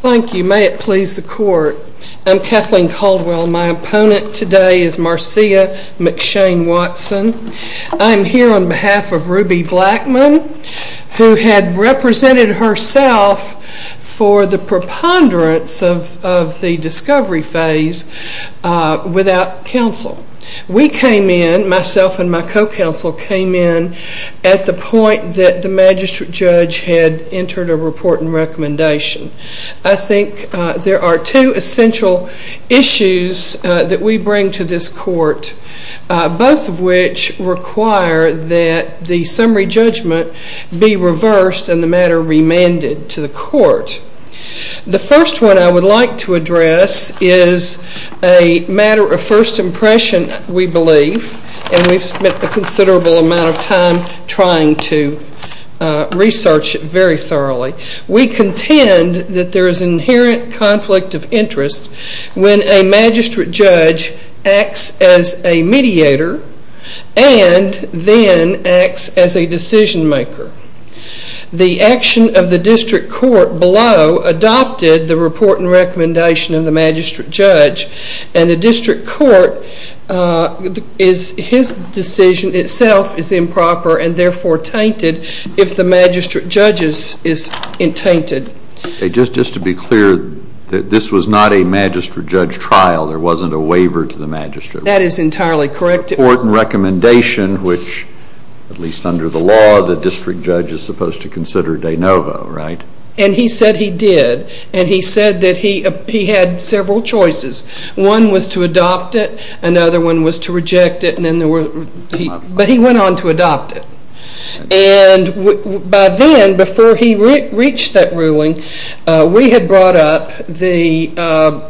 Thank you. May it please the court. I'm Kathleen Caldwell. My opponent today is Marcia McShane Watson. I'm here on behalf of Ruby Blackmon, who had represented herself for the preponderance of the discovery phase without counsel. We came in, myself and my co-counsel, came in at the point that the magistrate judge had entered a report and recommendation. I think there are two essential issues that we bring to this court, both of which require that the summary judgment be reversed and the matter remanded to the court. The first one I would like to address is a matter of first impression, we believe, and we've spent a considerable amount of time trying to research it very thoroughly. We contend that there is an inherent conflict of interest when a magistrate judge acts as a mediator and then acts as a decision maker. The action of the district court below adopted the report and recommendation of the magistrate judge, and the district court, his decision itself is improper and therefore tainted if the magistrate judge's is tainted. Just to be clear, this was not a magistrate judge trial. There wasn't a waiver to the magistrate. That is entirely correct. It was a report and recommendation which, at least under the law, the district judge is supposed to consider de novo, right? And he said he did, and he said that he had several choices. One was to adopt it, another one was to reject it, but he went on to adopt it. And by then, before he reached that ruling, we had brought up the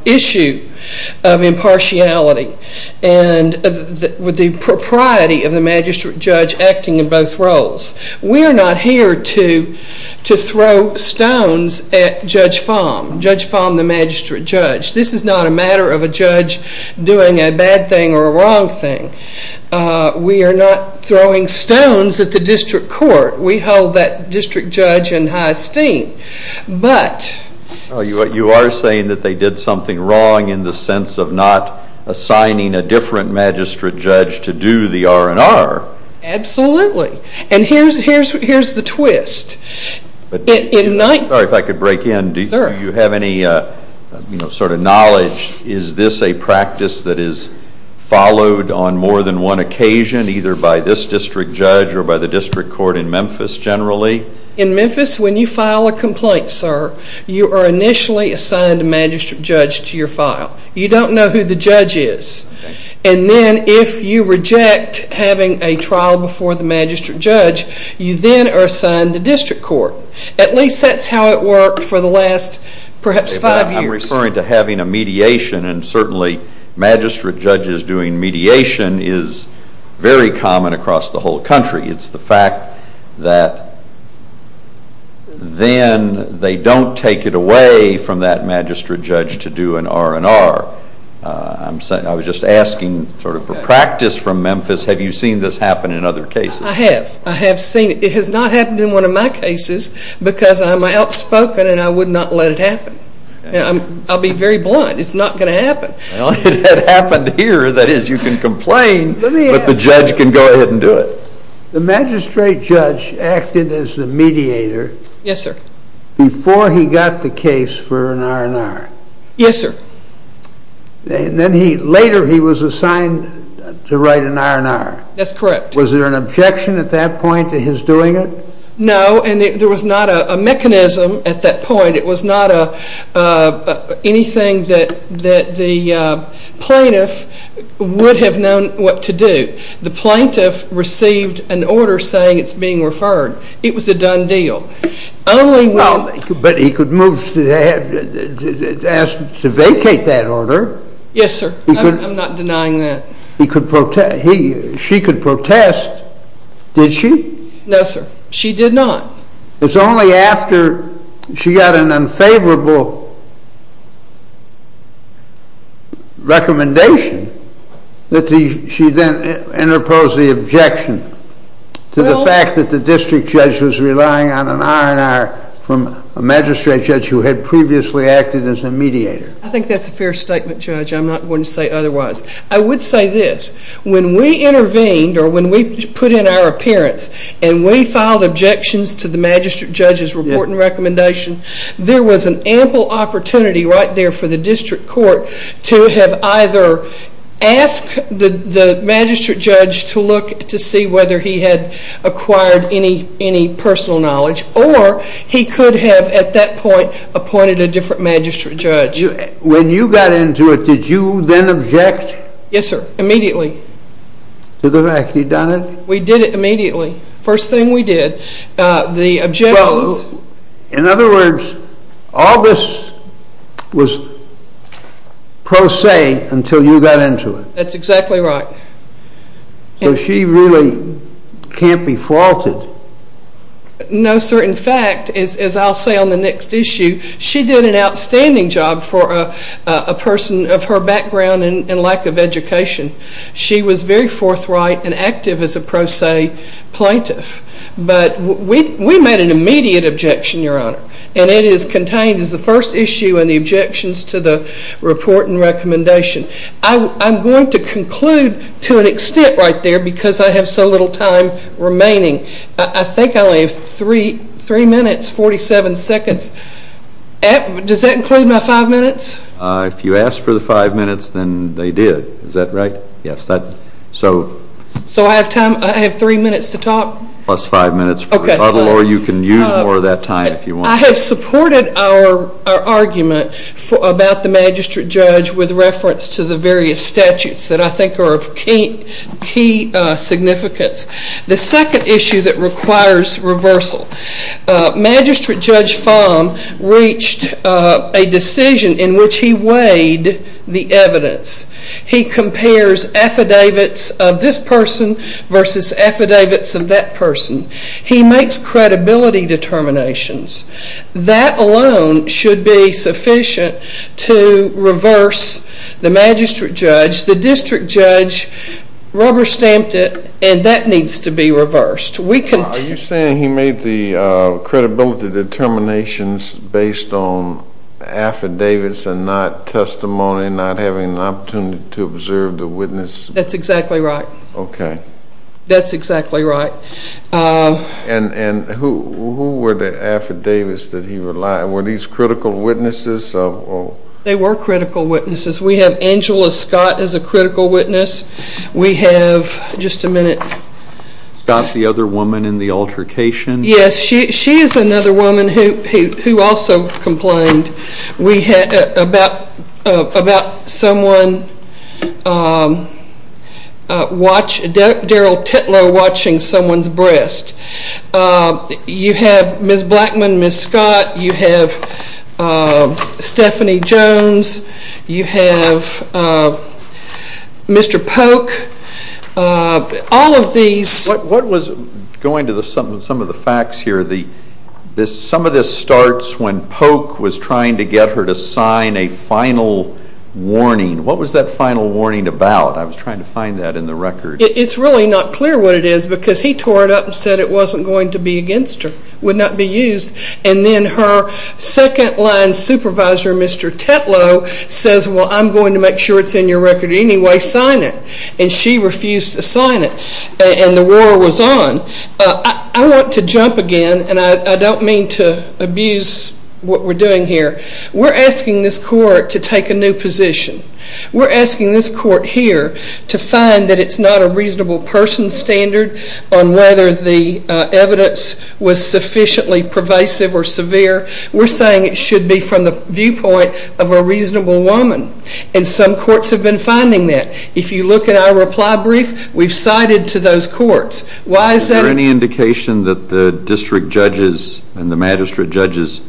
issue of impartiality and the propriety of the magistrate judge acting in both roles. We are not here to throw stones at Judge Fahm, Judge Fahm the magistrate judge. This is not a matter of a judge doing a bad thing or a wrong thing. We are not throwing stones at the district court. We hold that district judge in high esteem. But… Well, you are saying that they did something wrong in the sense of not assigning a different magistrate judge to do the R&R. Absolutely. And here's the twist. Sorry if I could break in. Do you have any sort of knowledge? Is this a practice that is followed on more than one occasion, either by this district judge or by the district court in Memphis generally? In Memphis, when you file a complaint, sir, you are initially assigned a magistrate judge to your file. You don't know who the judge is. And then if you reject having a trial before the magistrate judge, you then are assigned the district court. At least that's how it worked for the last perhaps five years. I'm referring to having a mediation, and certainly magistrate judges doing mediation is very common across the whole country. It's the fact that then they don't take it away from that magistrate judge to do an R&R. I was just asking sort of for practice from Memphis. Have you seen this happen in other cases? I have. I have seen it. It has not happened in one of my cases because I'm outspoken and I would not let it happen. I'll be very blunt. It's not going to happen. Well, it had happened here. That is, you can complain, but the judge can go ahead and do it. The magistrate judge acted as the mediator. Yes, sir. Before he got the case for an R&R. Yes, sir. And then later he was assigned to write an R&R. That's correct. Was there an objection at that point to his doing it? No, and there was not a mechanism at that point. It was not anything that the plaintiff would have known what to do. The plaintiff received an order saying it's being referred. It was a done deal. But he could move to ask to vacate that order. Yes, sir. I'm not denying that. She could protest. Did she? No, sir. She did not. It's only after she got an unfavorable recommendation that she then interposed the objection to the fact that the district judge was relying on an R&R from a magistrate judge who had previously acted as a mediator. I think that's a fair statement, Judge. I'm not going to say otherwise. I would say this. When we intervened or when we put in our appearance and we filed objections to the magistrate judge's report and recommendation, there was an ample opportunity right there for the district court to have either asked the magistrate judge to look to see whether he had acquired any personal knowledge or he could have at that point appointed a different magistrate judge. When you got into it, did you then object? Yes, sir. Immediately. To the fact that you'd done it? We did it immediately. First thing we did. The objections... In other words, all this was pro se until you got into it. That's exactly right. So she really can't be faulted? No, sir. In fact, as I'll say on the next issue, she did an outstanding job for a person of her background and lack of education. She was very forthright and active as a pro se plaintiff. But we made an immediate objection, Your Honor, and it is contained as the first issue in the objections to the report and recommendation. I'm going to conclude to an extent right there because I have so little time remaining. I think I only have three minutes, 47 seconds. Does that include my five minutes? If you asked for the five minutes, then they did. Is that right? Yes. So I have three minutes to talk? Plus five minutes for a couple, or you can use more of that time if you want. I have supported our argument about the magistrate judge with reference to the various statutes that I think are of key significance. The second issue that requires reversal. Magistrate Judge Fahm reached a decision in which he weighed the evidence. He compares affidavits of this person versus affidavits of that person. He makes credibility determinations. That alone should be sufficient to reverse the magistrate judge. The district judge rubber stamped it, and that needs to be reversed. Are you saying he made the credibility determinations based on affidavits and not testimony, not having an opportunity to observe the witness? That's exactly right. Okay. That's exactly right. And who were the affidavits that he relied? Were these critical witnesses? They were critical witnesses. We have Angela Scott as a critical witness. We have, just a minute. Scott, the other woman in the altercation? Yes, she is another woman who also complained. We had about someone watch, Daryl Titlow watching someone's breast. You have Ms. Blackman, Ms. Scott. You have Stephanie Jones. You have Mr. Polk. All of these. Going to some of the facts here, some of this starts when Polk was trying to get her to sign a final warning. What was that final warning about? I was trying to find that in the record. It's really not clear what it is because he tore it up and said it wasn't going to be against her, would not be used. And then her second-line supervisor, Mr. Titlow, says, well, I'm going to make sure it's in your record anyway, sign it. And she refused to sign it. And the war was on. I want to jump again, and I don't mean to abuse what we're doing here. We're asking this court to take a new position. We're asking this court here to find that it's not a reasonable person standard on whether the evidence was sufficiently pervasive or severe. We're saying it should be from the viewpoint of a reasonable woman. And some courts have been finding that. If you look at our reply brief, we've cited to those courts. Why is that? Was there any indication that the district judge's and the magistrate judge's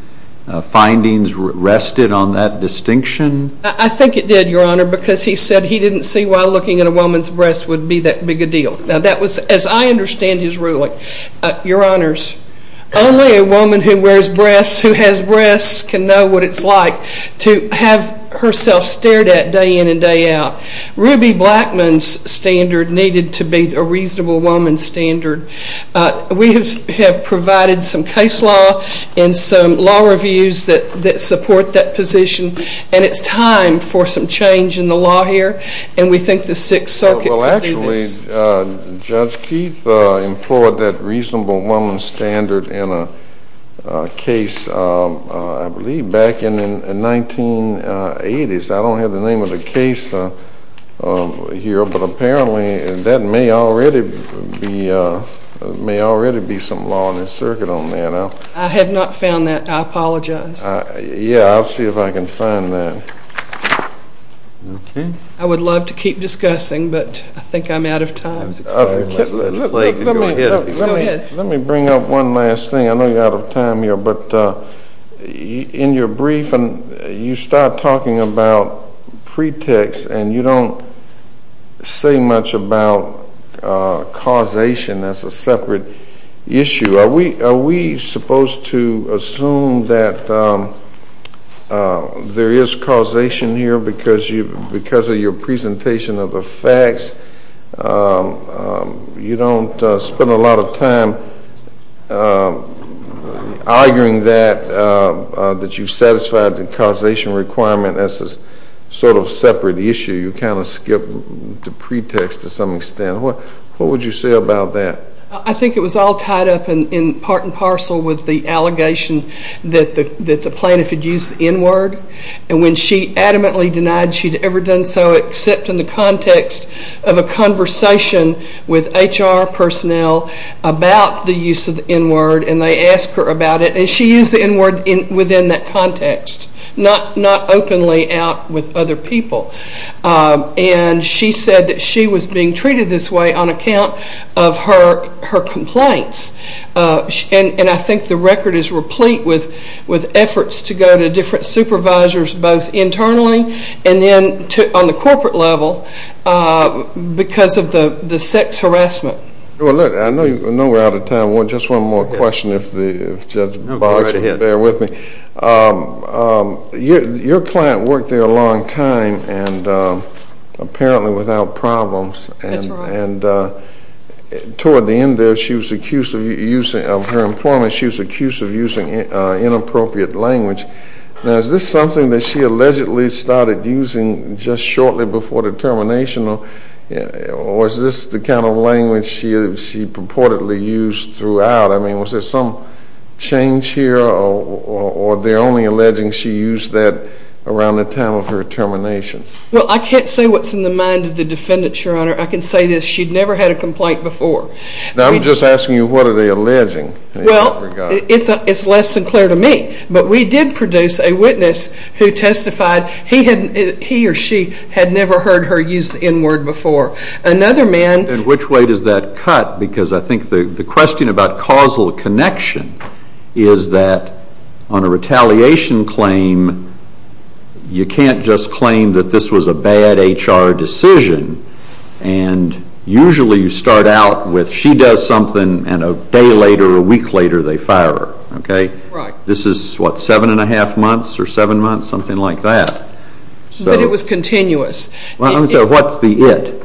findings rested on that distinction? I think it did, Your Honor, because he said he didn't see why looking at a woman's breasts would be that big a deal. Now, that was, as I understand his ruling, Your Honors, only a woman who wears breasts, who has breasts, can know what it's like to have herself stared at day in and day out. Ruby Blackman's standard needed to be a reasonable woman standard. We have provided some case law and some law reviews that support that position, and it's time for some change in the law here. And we think the Sixth Circuit could do this. Well, actually, Judge Keith employed that reasonable woman standard in a case, I believe, back in the 1980s. I don't have the name of the case here, but apparently that may already be some law in the circuit on that. I have not found that. I apologize. Yeah, I'll see if I can find that. Okay. I would love to keep discussing, but I think I'm out of time. Go ahead. Let me bring up one last thing. I know you're out of time here, but in your brief, you start talking about pretext, and you don't say much about causation. That's a separate issue. Are we supposed to assume that there is causation here because of your presentation of the facts? You don't spend a lot of time arguing that, that you've satisfied the causation requirement as a sort of separate issue. You kind of skip the pretext to some extent. What would you say about that? I think it was all tied up in part and parcel with the allegation that the plaintiff had used the N-word, and when she adamantly denied she'd ever done so except in the context of a conversation with HR personnel about the use of the N-word, and they asked her about it, and she used the N-word within that context, not openly out with other people. And she said that she was being treated this way on account of her complaints, and I think the record is replete with efforts to go to different supervisors both internally and then on the corporate level because of the sex harassment. I know we're out of time. Just one more question if Judge Boggs would bear with me. Your client worked there a long time and apparently without problems. That's right. And toward the end of her employment, she was accused of using inappropriate language. Now, is this something that she allegedly started using just shortly before the termination, or is this the kind of language she purportedly used throughout? I mean, was there some change here, or they're only alleging she used that around the time of her termination? Well, I can't say what's in the mind of the defendant, Your Honor. I can say this. She'd never had a complaint before. Now, I'm just asking you what are they alleging in that regard? Well, it's less than clear to me, but we did produce a witness who testified he or she had never heard her use the N-word before. And which way does that cut? Because I think the question about causal connection is that on a retaliation claim, you can't just claim that this was a bad HR decision, and usually you start out with she does something and a day later or a week later they fire her. This is, what, seven and a half months or seven months, something like that. But it was continuous. What's the it?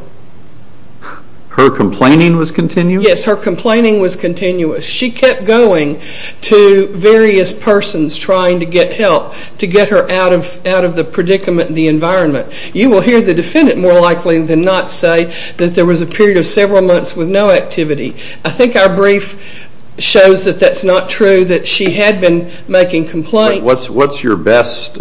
Her complaining was continuous? Yes, her complaining was continuous. She kept going to various persons trying to get help to get her out of the predicament in the environment. You will hear the defendant more likely than not say that there was a period of several months with no activity. I think our brief shows that that's not true, that she had been making complaints. What's your best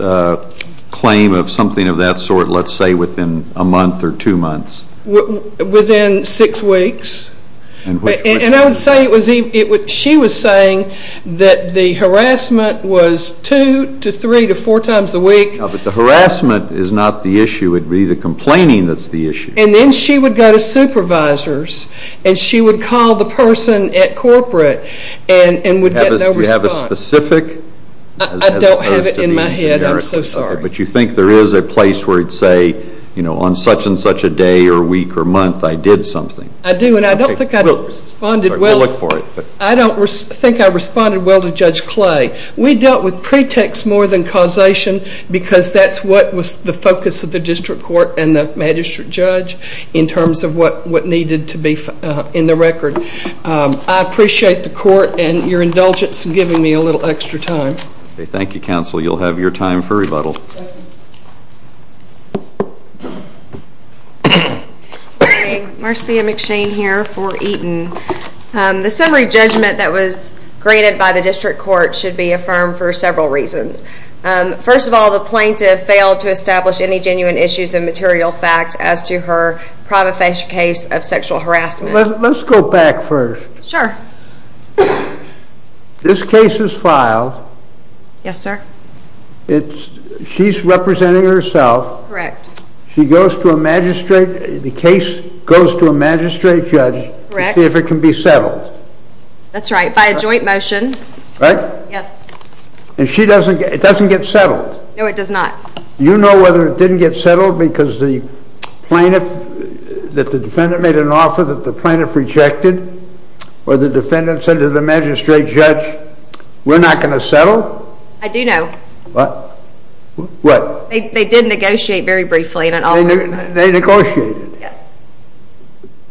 claim of something of that sort, let's say, within a month or two months? Within six weeks. And I would say she was saying that the harassment was two to three to four times a week. No, but the harassment is not the issue. It would be the complaining that's the issue. And then she would go to supervisors and she would call the person at corporate and would get no response. Is that specific? I don't have it in my head. I'm so sorry. But you think there is a place where you'd say, you know, on such and such a day or week or month I did something? I do, and I don't think I responded well. We'll look for it. I don't think I responded well to Judge Clay. We dealt with pretext more than causation because that's what was the focus of the district court and the magistrate judge in terms of what needed to be in the record. I appreciate the court and your indulgence in giving me a little extra time. Thank you, counsel. You'll have your time for rebuttal. Marcia McShane here for Eaton. The summary judgment that was granted by the district court should be affirmed for several reasons. First of all, the plaintiff failed to establish any genuine issues and material facts as to her prima facie case of sexual harassment. Let's go back first. Sure. This case is filed. Yes, sir. She's representing herself. Correct. The case goes to a magistrate judge to see if it can be settled. That's right, by a joint motion. Right? Yes. And it doesn't get settled? No, it does not. You know whether it didn't get settled because the defendant made an offer that the plaintiff rejected or the defendant said to the magistrate judge, we're not going to settle? I do know. What? They did negotiate very briefly. They negotiated? Yes.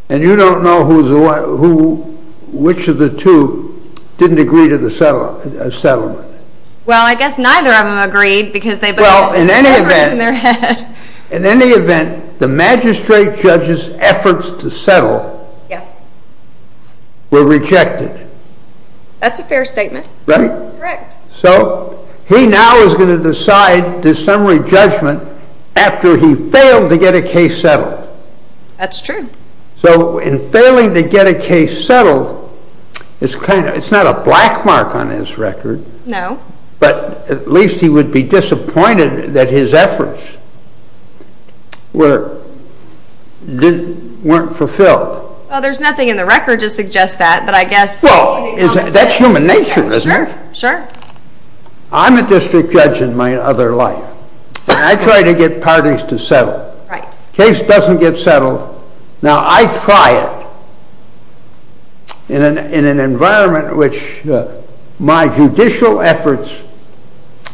And you don't know which of the two didn't agree to the settlement? Well, I guess neither of them agreed because they put all the papers in their head. In any event, the magistrate judge's efforts to settle were rejected. That's a fair statement. Right? Correct. So he now is going to decide the summary judgment after he failed to get a case settled. That's true. So in failing to get a case settled, it's not a black mark on his record. No. But at least he would be disappointed that his efforts weren't fulfilled. Well, there's nothing in the record to suggest that. Well, that's human nature, isn't it? Sure, sure. I'm a district judge in my other life, and I try to get parties to settle. Right. Now, I try it in an environment in which my judicial efforts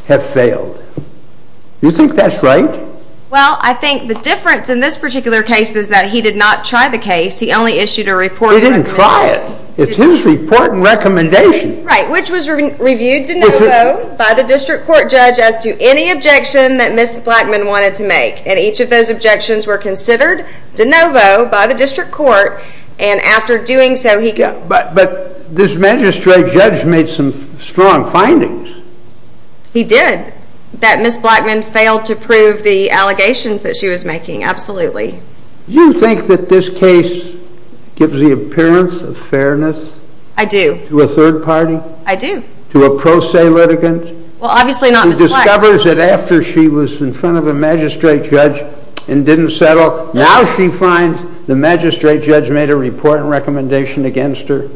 have failed. Do you think that's right? Well, I think the difference in this particular case is that he did not try the case. He only issued a report. He didn't try it. It's his report and recommendation. Right, which was reviewed de novo by the district court judge as to any objection that Ms. Blackman wanted to make. And each of those objections were considered de novo by the district court. And after doing so, he got... But this magistrate judge made some strong findings. He did. That Ms. Blackman failed to prove the allegations that she was making. Absolutely. Do you think that this case gives the appearance of fairness? I do. To a third party? I do. To a pro se litigant? Well, obviously not Ms. Blackman. She discovers that after she was in front of a magistrate judge and didn't settle, now she finds the magistrate judge made a report and recommendation against her.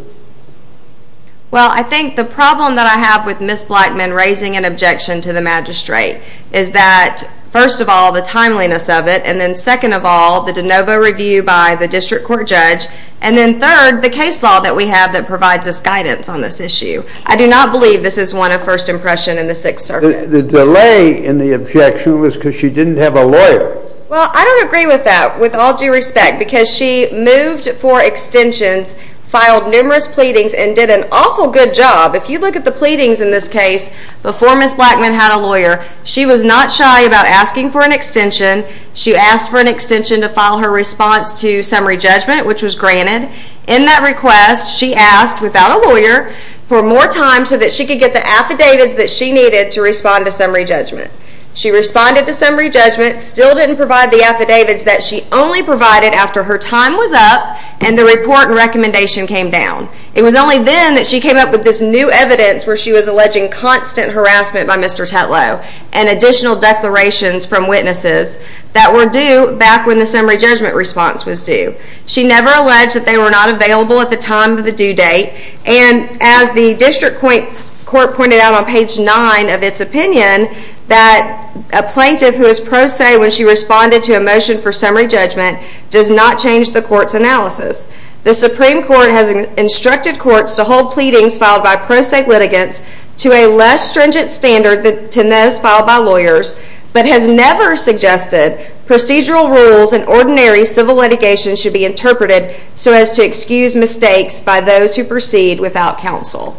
Well, I think the problem that I have with Ms. Blackman raising an objection to the magistrate is that, first of all, the timeliness of it, and then second of all, the de novo review by the district court judge, and then third, the case law that we have that provides us guidance on this issue. I do not believe this is one of first impression in the Sixth Circuit. The delay in the objection was because she didn't have a lawyer. Well, I don't agree with that, with all due respect, because she moved for extensions, filed numerous pleadings, and did an awful good job. If you look at the pleadings in this case before Ms. Blackman had a lawyer, she was not shy about asking for an extension. She asked for an extension to file her response to summary judgment, which was granted. In that request, she asked, without a lawyer, for more time so that she could get the affidavits that she needed to respond to summary judgment. She responded to summary judgment, still didn't provide the affidavits that she only provided after her time was up and the report and recommendation came down. It was only then that she came up with this new evidence where she was alleging constant harassment by Mr. Tetlow and additional declarations from witnesses that were due back when the summary judgment response was due. She never alleged that they were not available at the time of the due date, and as the district court pointed out on page 9 of its opinion, that a plaintiff who is pro se when she responded to a motion for summary judgment does not change the court's analysis. The Supreme Court has instructed courts to hold pleadings filed by pro se litigants to a less stringent standard than those filed by lawyers, but has never suggested procedural rules and ordinary civil litigation should be interpreted so as to excuse mistakes by those who proceed without counsel.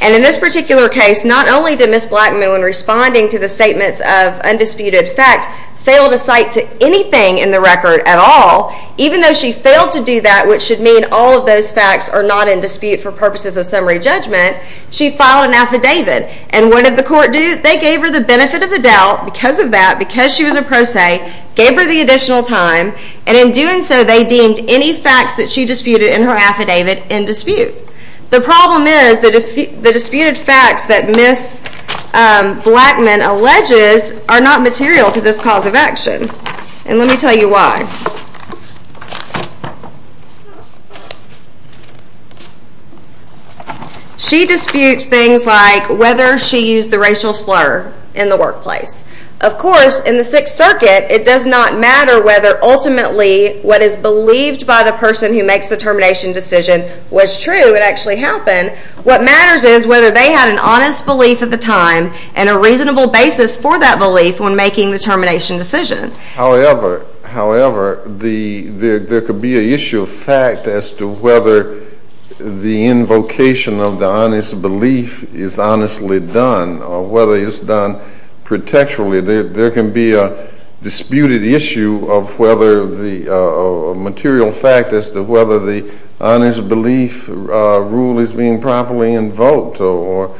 And in this particular case, not only did Ms. Blackman, when responding to the statements of undisputed fact, fail to cite to anything in the record at all, even though she failed to do that, which should mean all of those facts are not in dispute for purposes of summary judgment, she filed an affidavit, and what did the court do? They gave her the benefit of the doubt because of that, because she was a pro se, gave her the additional time, and in doing so they deemed any facts that she disputed in her affidavit in dispute. The problem is the disputed facts that Ms. Blackman alleges are not material to this cause of action, and let me tell you why. She disputes things like whether she used the racial slur in the workplace. Of course, in the Sixth Circuit, it does not matter whether ultimately what is believed by the person who makes the termination decision was true, it actually happened. What matters is whether they had an honest belief at the time and a reasonable basis for that belief when making the termination decision. However, there could be an issue of fact as to whether the invocation of the honest belief is honestly done or whether it's done protectively. There can be a disputed issue of whether the material fact as to whether the honest belief rule is being properly invoked or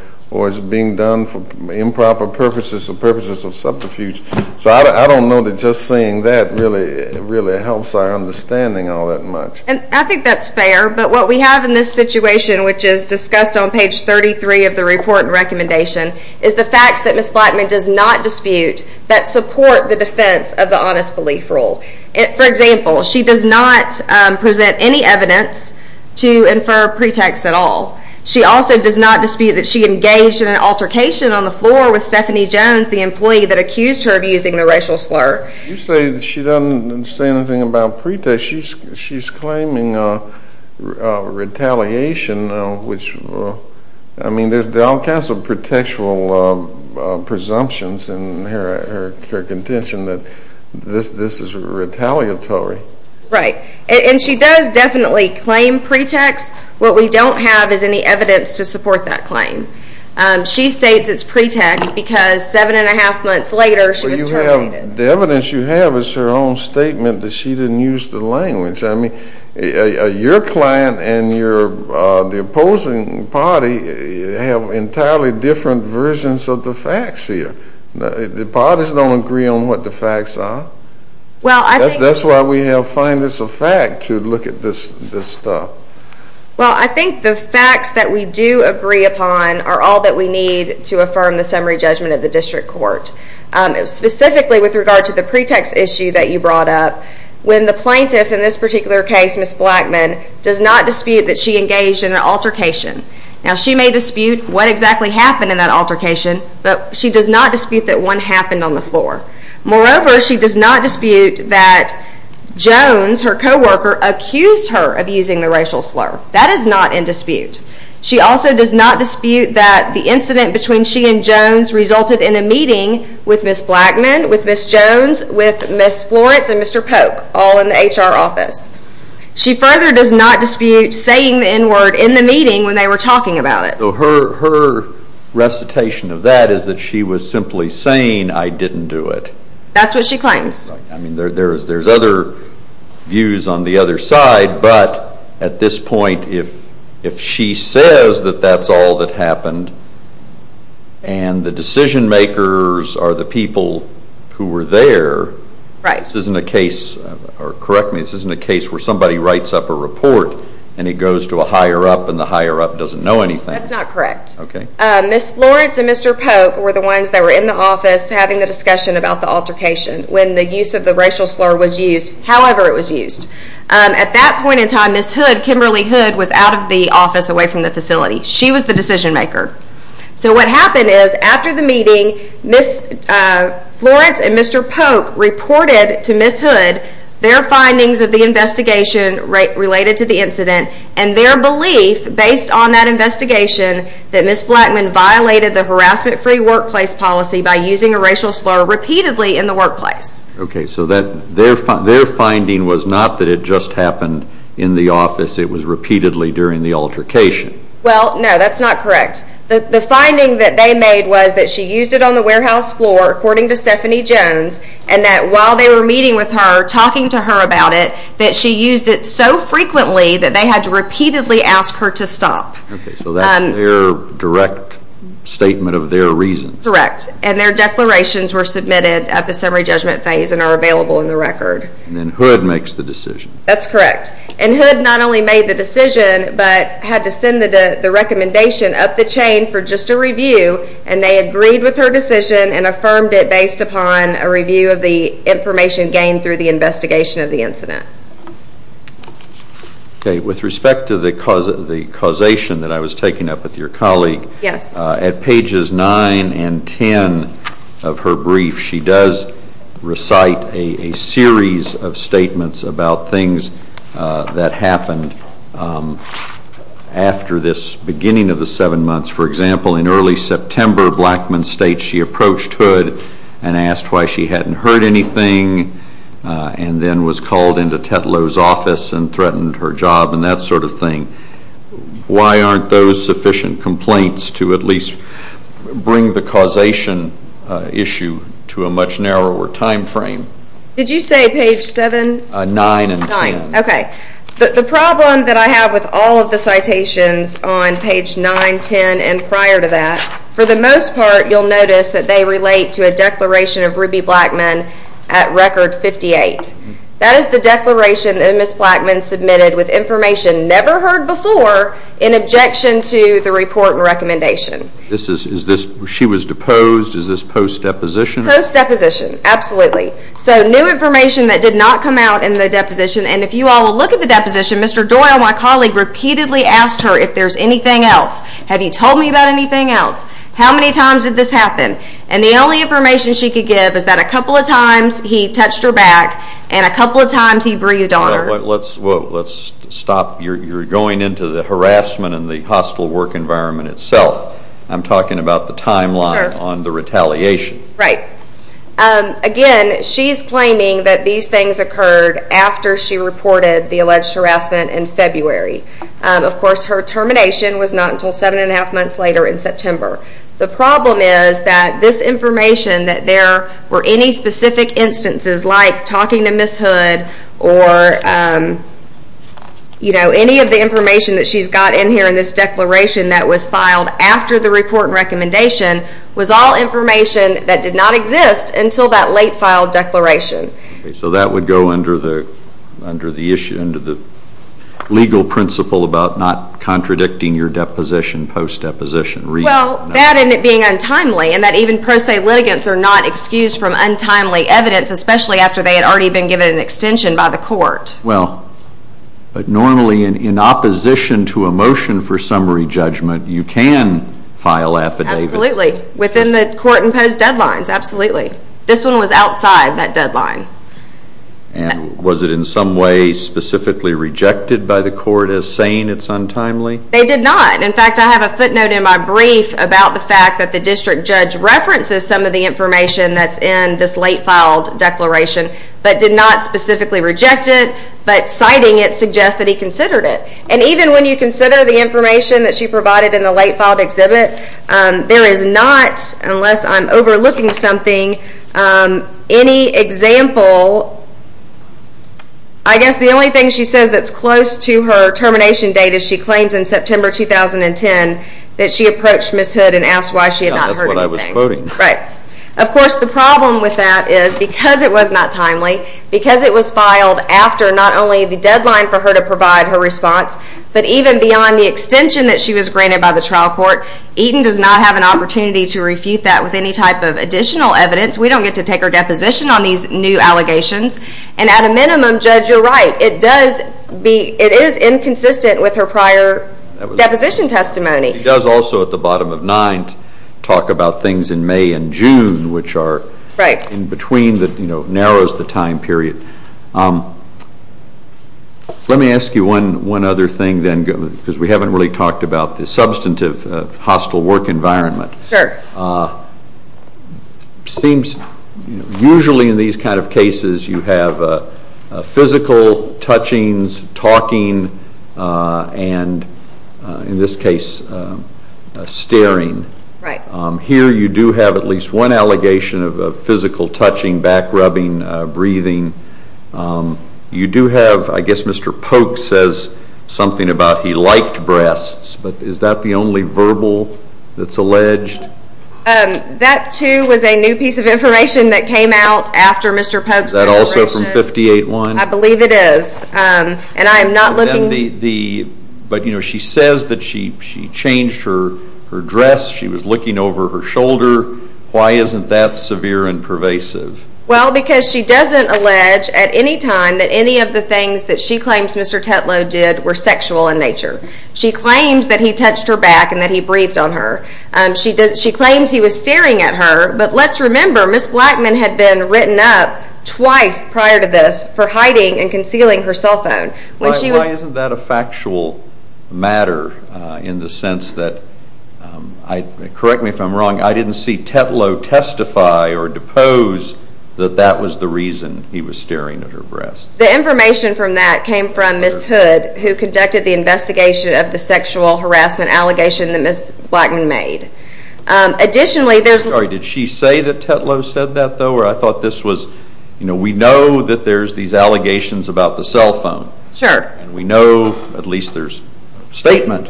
is being done for improper purposes or purposes of subterfuge. So I don't know that just saying that really helps our understanding all that much. And I think that's fair, but what we have in this situation, which is discussed on page 33 of the report and recommendation, is the facts that Ms. Blackman does not dispute that support the defense of the honest belief rule. For example, she does not present any evidence to infer pretext at all. She also does not dispute that she engaged in an altercation on the floor with Stephanie Jones, the employee that accused her of using the racial slur. You say that she doesn't say anything about pretext. She's claiming retaliation, which, I mean, there's all kinds of pretextual presumptions in her contention that this is retaliatory. Right, and she does definitely claim pretext. What we don't have is any evidence to support that claim. She states it's pretext because seven and a half months later she was terminated. The evidence you have is her own statement that she didn't use the language. I mean, your client and the opposing party have entirely different versions of the facts here. The parties don't agree on what the facts are. That's why we have finders of fact to look at this stuff. Well, I think the facts that we do agree upon are all that we need to affirm the summary judgment of the district court. Specifically with regard to the pretext issue that you brought up, when the plaintiff in this particular case, Ms. Blackman, does not dispute that she engaged in an altercation. Now, she may dispute what exactly happened in that altercation, but she does not dispute that one happened on the floor. Moreover, she does not dispute that Jones, her co-worker, accused her of using the racial slur. That is not in dispute. She also does not dispute that the incident between she and Jones resulted in a meeting with Ms. Blackman, with Ms. Jones, with Ms. Florence, and Mr. Polk, all in the HR office. She further does not dispute saying the N-word in the meeting when they were talking about it. So her recitation of that is that she was simply saying, I didn't do it. That's what she claims. I mean, there's other views on the other side, but at this point, if she says that that's all that happened, and the decision makers are the people who were there, this isn't a case, or correct me, this isn't a case where somebody writes up a report and it goes to a higher-up and the higher-up doesn't know anything. That's not correct. Ms. Florence and Mr. Polk were the ones that were in the office having the discussion about the altercation when the use of the racial slur was used, however it was used. At that point in time, Ms. Hood, Kimberly Hood, was out of the office, away from the facility. She was the decision maker. So what happened is, after the meeting, Ms. Florence and Mr. Polk reported to Ms. Hood their findings of the investigation related to the incident and their belief, based on that investigation, that Ms. Blackman violated the harassment-free workplace policy by using a racial slur repeatedly in the workplace. Okay, so their finding was not that it just happened in the office. It was repeatedly during the altercation. Well, no, that's not correct. The finding that they made was that she used it on the warehouse floor, according to Stephanie Jones, and that while they were meeting with her, talking to her about it, that she used it so frequently that they had to repeatedly ask her to stop. Okay, so that's their direct statement of their reasons. Correct, and their declarations were submitted at the summary judgment phase and are available in the record. And then Hood makes the decision. That's correct. And Hood not only made the decision, but had to send the recommendation up the chain for just a review, and they agreed with her decision and affirmed it based upon a review of the information gained through the investigation of the incident. Okay, with respect to the causation that I was taking up with your colleague, at pages 9 and 10 of her brief, she does recite a series of statements about things that happened after this beginning of the seven months. For example, in early September, Blackmun State, she approached Hood and asked why she hadn't heard anything and then was called into Tetlow's office and threatened her job and that sort of thing. Why aren't those sufficient complaints to at least bring the causation issue to a much narrower time frame? Did you say page 7? 9 and 10. Okay, the problem that I have with all of the citations on page 9, 10, and prior to that, for the most part, you'll notice that they relate to a declaration of Ruby Blackmun at record 58. That is the declaration that Ms. Blackmun submitted with information never heard before in objection to the report and recommendation. She was deposed. Is this post-deposition? Post-deposition, absolutely. So new information that did not come out in the deposition, and if you all will look at the deposition, Mr. Doyle, my colleague, repeatedly asked her if there's anything else. Have you told me about anything else? How many times did this happen? And the only information she could give is that a couple of times he touched her back and a couple of times he breathed on her. Let's stop. You're going into the harassment and the hostile work environment itself. I'm talking about the timeline on the retaliation. Right. Again, she's claiming that these things occurred after she reported the alleged harassment in February. Of course, her termination was not until seven and a half months later in September. The problem is that this information, that there were any specific instances like talking to Ms. Hood or any of the information that she's got in here in this declaration that was filed after the report and recommendation was all information that did not exist until that late filed declaration. So that would go under the legal principle about not contradicting your deposition, post-deposition. Well, that and it being untimely and that even pro se litigants are not excused from untimely evidence, especially after they had already been given an extension by the court. Well, but normally in opposition to a motion for summary judgment, you can file affidavits. Absolutely, within the court imposed deadlines. Absolutely. This one was outside that deadline. And was it in some way specifically rejected by the court as saying it's untimely? They did not. In fact, I have a footnote in my brief about the fact that the district judge references some of the information that's in this late filed declaration, but did not specifically reject it, but citing it suggests that he considered it. And even when you consider the information that she provided in the late filed exhibit, there is not, unless I'm overlooking something, any example. I guess the only thing she says that's close to her termination date is she claims in September 2010 that she approached Ms. Hood and asked why she had not heard anything. That's what I was quoting. Right. Of course, the problem with that is because it was not timely, because it was filed after not only the deadline for her to provide her response, but even beyond the extension that she was granted by the trial court, Eaton does not have an opportunity to refute that with any type of additional evidence. We don't get to take her deposition on these new allegations. And at a minimum, Judge, you're right. It is inconsistent with her prior deposition testimony. She does also, at the bottom of 9th, talk about things in May and June, which are in between that narrows the time period. Let me ask you one other thing, then, because we haven't really talked about the substantive hostile work environment. Sure. It seems usually in these kind of cases you have physical touchings, talking, and in this case, staring. Right. Here you do have at least one allegation of physical touching, back rubbing, breathing. You do have, I guess Mr. Polk says something about he liked breasts, but is that the only verbal that's alleged? That, too, was a new piece of information that came out after Mr. Polk's deliberations. Is that also from 58-1? I believe it is. But, you know, she says that she changed her dress, she was looking over her shoulder. Why isn't that severe and pervasive? Well, because she doesn't allege at any time that any of the things that she claims Mr. Tetlow did were sexual in nature. She claims that he touched her back and that he breathed on her. She claims he was staring at her, but let's remember Ms. Blackman had been written up twice prior to this for hiding and concealing her cell phone. Why isn't that a factual matter in the sense that, correct me if I'm wrong, I didn't see Tetlow testify or depose that that was the reason he was staring at her breasts. The information from that came from Ms. Hood, who conducted the investigation of the sexual harassment allegation that Ms. Blackman made. Additionally, there's... Sorry, did she say that Tetlow said that, though, or I thought this was... You know, we know that there's these allegations about the cell phone. Sure. And we know, at least there's a statement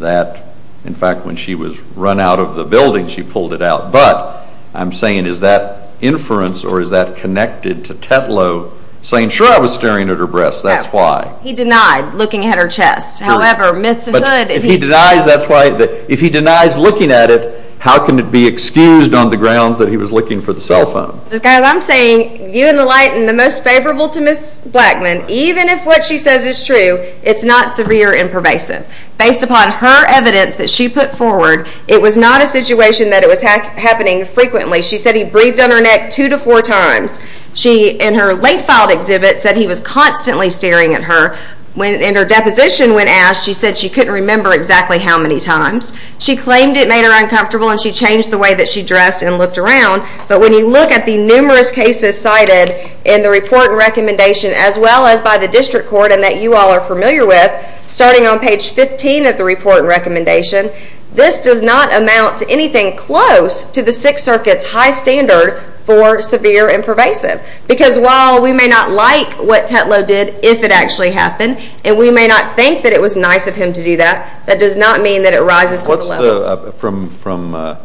that, in fact, when she was run out of the building, she pulled it out. But I'm saying is that inference or is that connected to Tetlow saying, sure, I was staring at her breasts, that's why. He denied looking at her chest. However, Ms. Hood... But if he denies, that's why... If he denies looking at it, how can it be excused on the grounds that he was looking for the cell phone? Guys, I'm saying you and the light and the most favorable to Ms. Blackman, even if what she says is true, it's not severe and pervasive. Based upon her evidence that she put forward, it was not a situation that it was happening frequently. She said he breathed on her neck two to four times. She, in her late filed exhibit, said he was constantly staring at her. In her deposition when asked, she said she couldn't remember exactly how many times. She claimed it made her uncomfortable and she changed the way that she dressed and looked around. But when you look at the numerous cases cited in the report and recommendation as well as by the district court and that you all are familiar with, starting on page 15 of the report and recommendation, this does not amount to anything close to the Sixth Circuit's high standard for severe and pervasive. Because while we may not like what Tetlow did, if it actually happened, and we may not think that it was nice of him to do that, that does not mean that it rises to the level.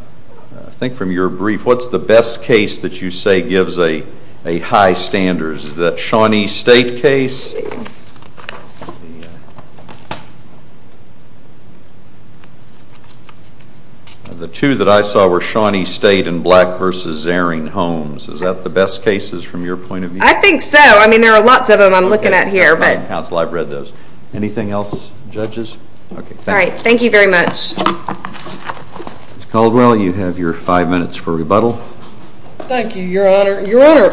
I think from your brief, what's the best case that you say gives a high standard? Is that Shawnee State case? The two that I saw were Shawnee State and Black v. Zaring Homes. Is that the best cases from your point of view? I think so. I mean, there are lots of them I'm looking at here. Counsel, I've read those. Anything else, judges? All right. Thank you very much. Ms. Caldwell, you have your five minutes for rebuttal. Thank you, Your Honor. Your Honor,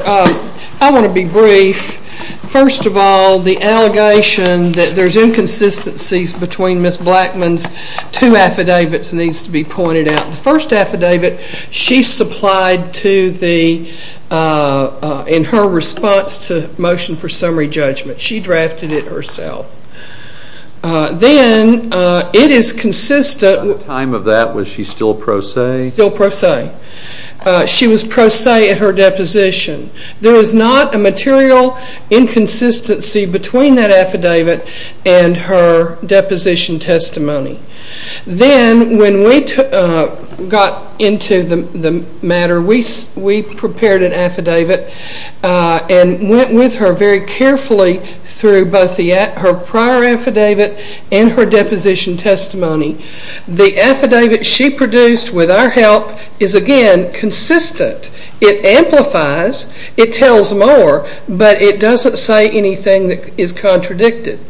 I want to be brief. First of all, the allegation that there's inconsistencies between Ms. Blackman's two affidavits needs to be pointed out. The first affidavit, she supplied in her response to motion for summary judgment. She drafted it herself. Then it is consistent. At the time of that, was she still pro se? Still pro se. She was pro se at her deposition. There is not a material inconsistency between that affidavit and her deposition testimony. Then when we got into the matter, we prepared an affidavit and went with her very carefully through both her prior affidavit and her deposition testimony. The affidavit she produced with our help is, again, consistent. It amplifies. It tells more, but it doesn't say anything that is contradicted.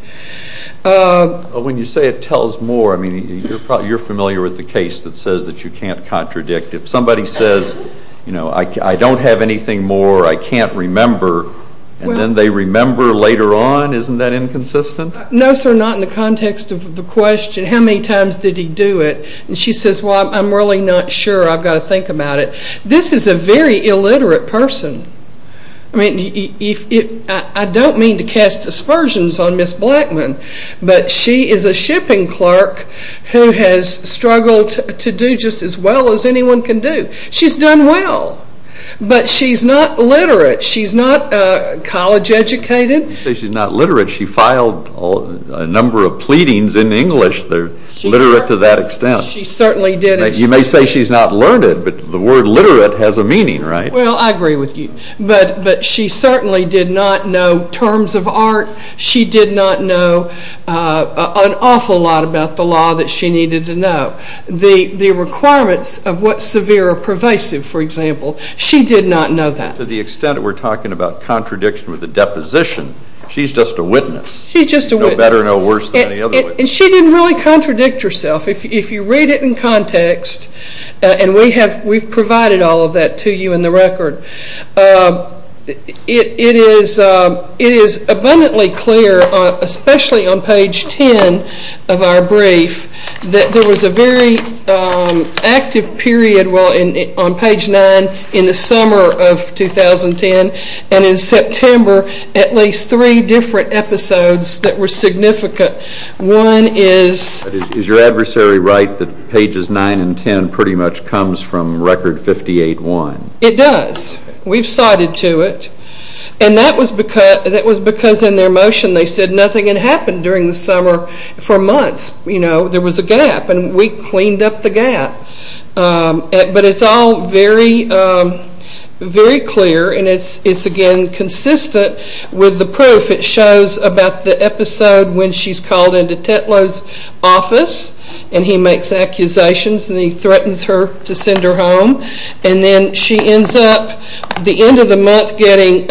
When you say it tells more, I mean, you're familiar with the case that says that you can't contradict. If somebody says, you know, I don't have anything more, I can't remember, and then they remember later on, isn't that inconsistent? No, sir, not in the context of the question, how many times did he do it? And she says, well, I'm really not sure. I've got to think about it. This is a very illiterate person. I mean, I don't mean to cast aspersions on Ms. Blackman, but she is a shipping clerk who has struggled to do just as well as anyone can do. She's done well, but she's not literate. She's not college educated. You say she's not literate. She filed a number of pleadings in English. They're literate to that extent. She certainly didn't. You may say she's not learned it, but the word literate has a meaning, right? Well, I agree with you, but she certainly did not know terms of art. She did not know an awful lot about the law that she needed to know. The requirements of what's severe or pervasive, for example, she did not know that. To the extent that we're talking about contradiction with a deposition, she's just a witness. She's just a witness. No better, no worse than any other witness. And she didn't really contradict herself. If you read it in context, and we've provided all of that to you in the record, it is abundantly clear, especially on page 10 of our brief, that there was a very active period on page 9 in the summer of 2010, and in September at least three different episodes that were significant. One is... Is your adversary right that pages 9 and 10 pretty much comes from record 58-1? It does. We've cited to it. And that was because in their motion they said nothing had happened during the summer for months. You know, there was a gap, and we cleaned up the gap. But it's all very clear, and it's, again, consistent with the proof. It shows about the episode when she's called into Tetlow's office, and he makes accusations, and he threatens her to send her home. And then she ends up at the end of the month getting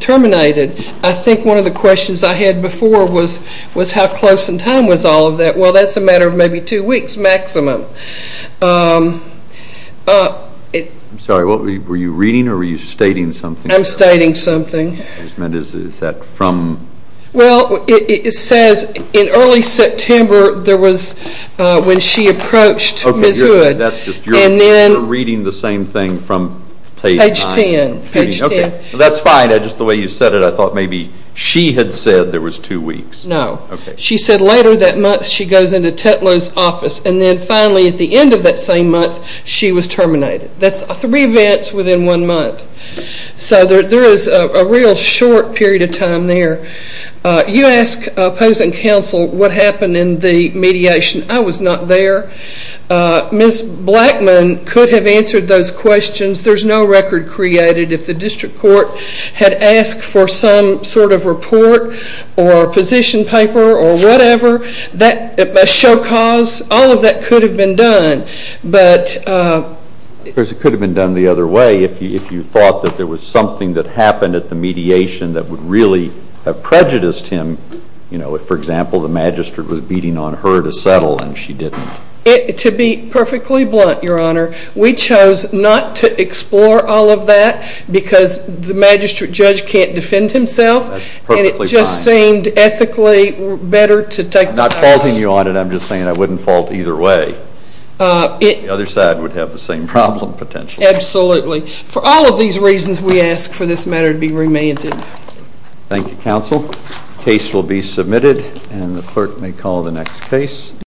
terminated. I think one of the questions I had before was how close in time was all of that. Well, that's a matter of maybe two weeks maximum. I'm sorry. Were you reading or were you stating something? I'm stating something. Is that from... Well, it says in early September there was when she approached Ms. Hood. You're reading the same thing from page 9? Page 10. That's fine. Just the way you said it, I thought maybe she had said there was two weeks. No. She said later that month she goes into Tetlow's office, and then finally at the end of that same month she was terminated. That's three events within one month. So there is a real short period of time there. You ask opposing counsel what happened in the mediation. I was not there. Ms. Blackman could have answered those questions. There's no record created. If the district court had asked for some sort of report or position paper or whatever, a show cause, all of that could have been done. Of course, it could have been done the other way if you thought that there was something that happened at the mediation that would really have prejudiced him. If, for example, the magistrate was beating on her to settle and she didn't. To be perfectly blunt, Your Honor, we chose not to explore all of that because the magistrate judge can't defend himself. That's perfectly fine. And it just seemed ethically better to take that off. I'm not faulting you on it. I'm just saying I wouldn't fault either way. The other side would have the same problem potentially. Absolutely. For all of these reasons, we ask for this matter to be remanded. Thank you, counsel. The case will be submitted, and the clerk may call the next case.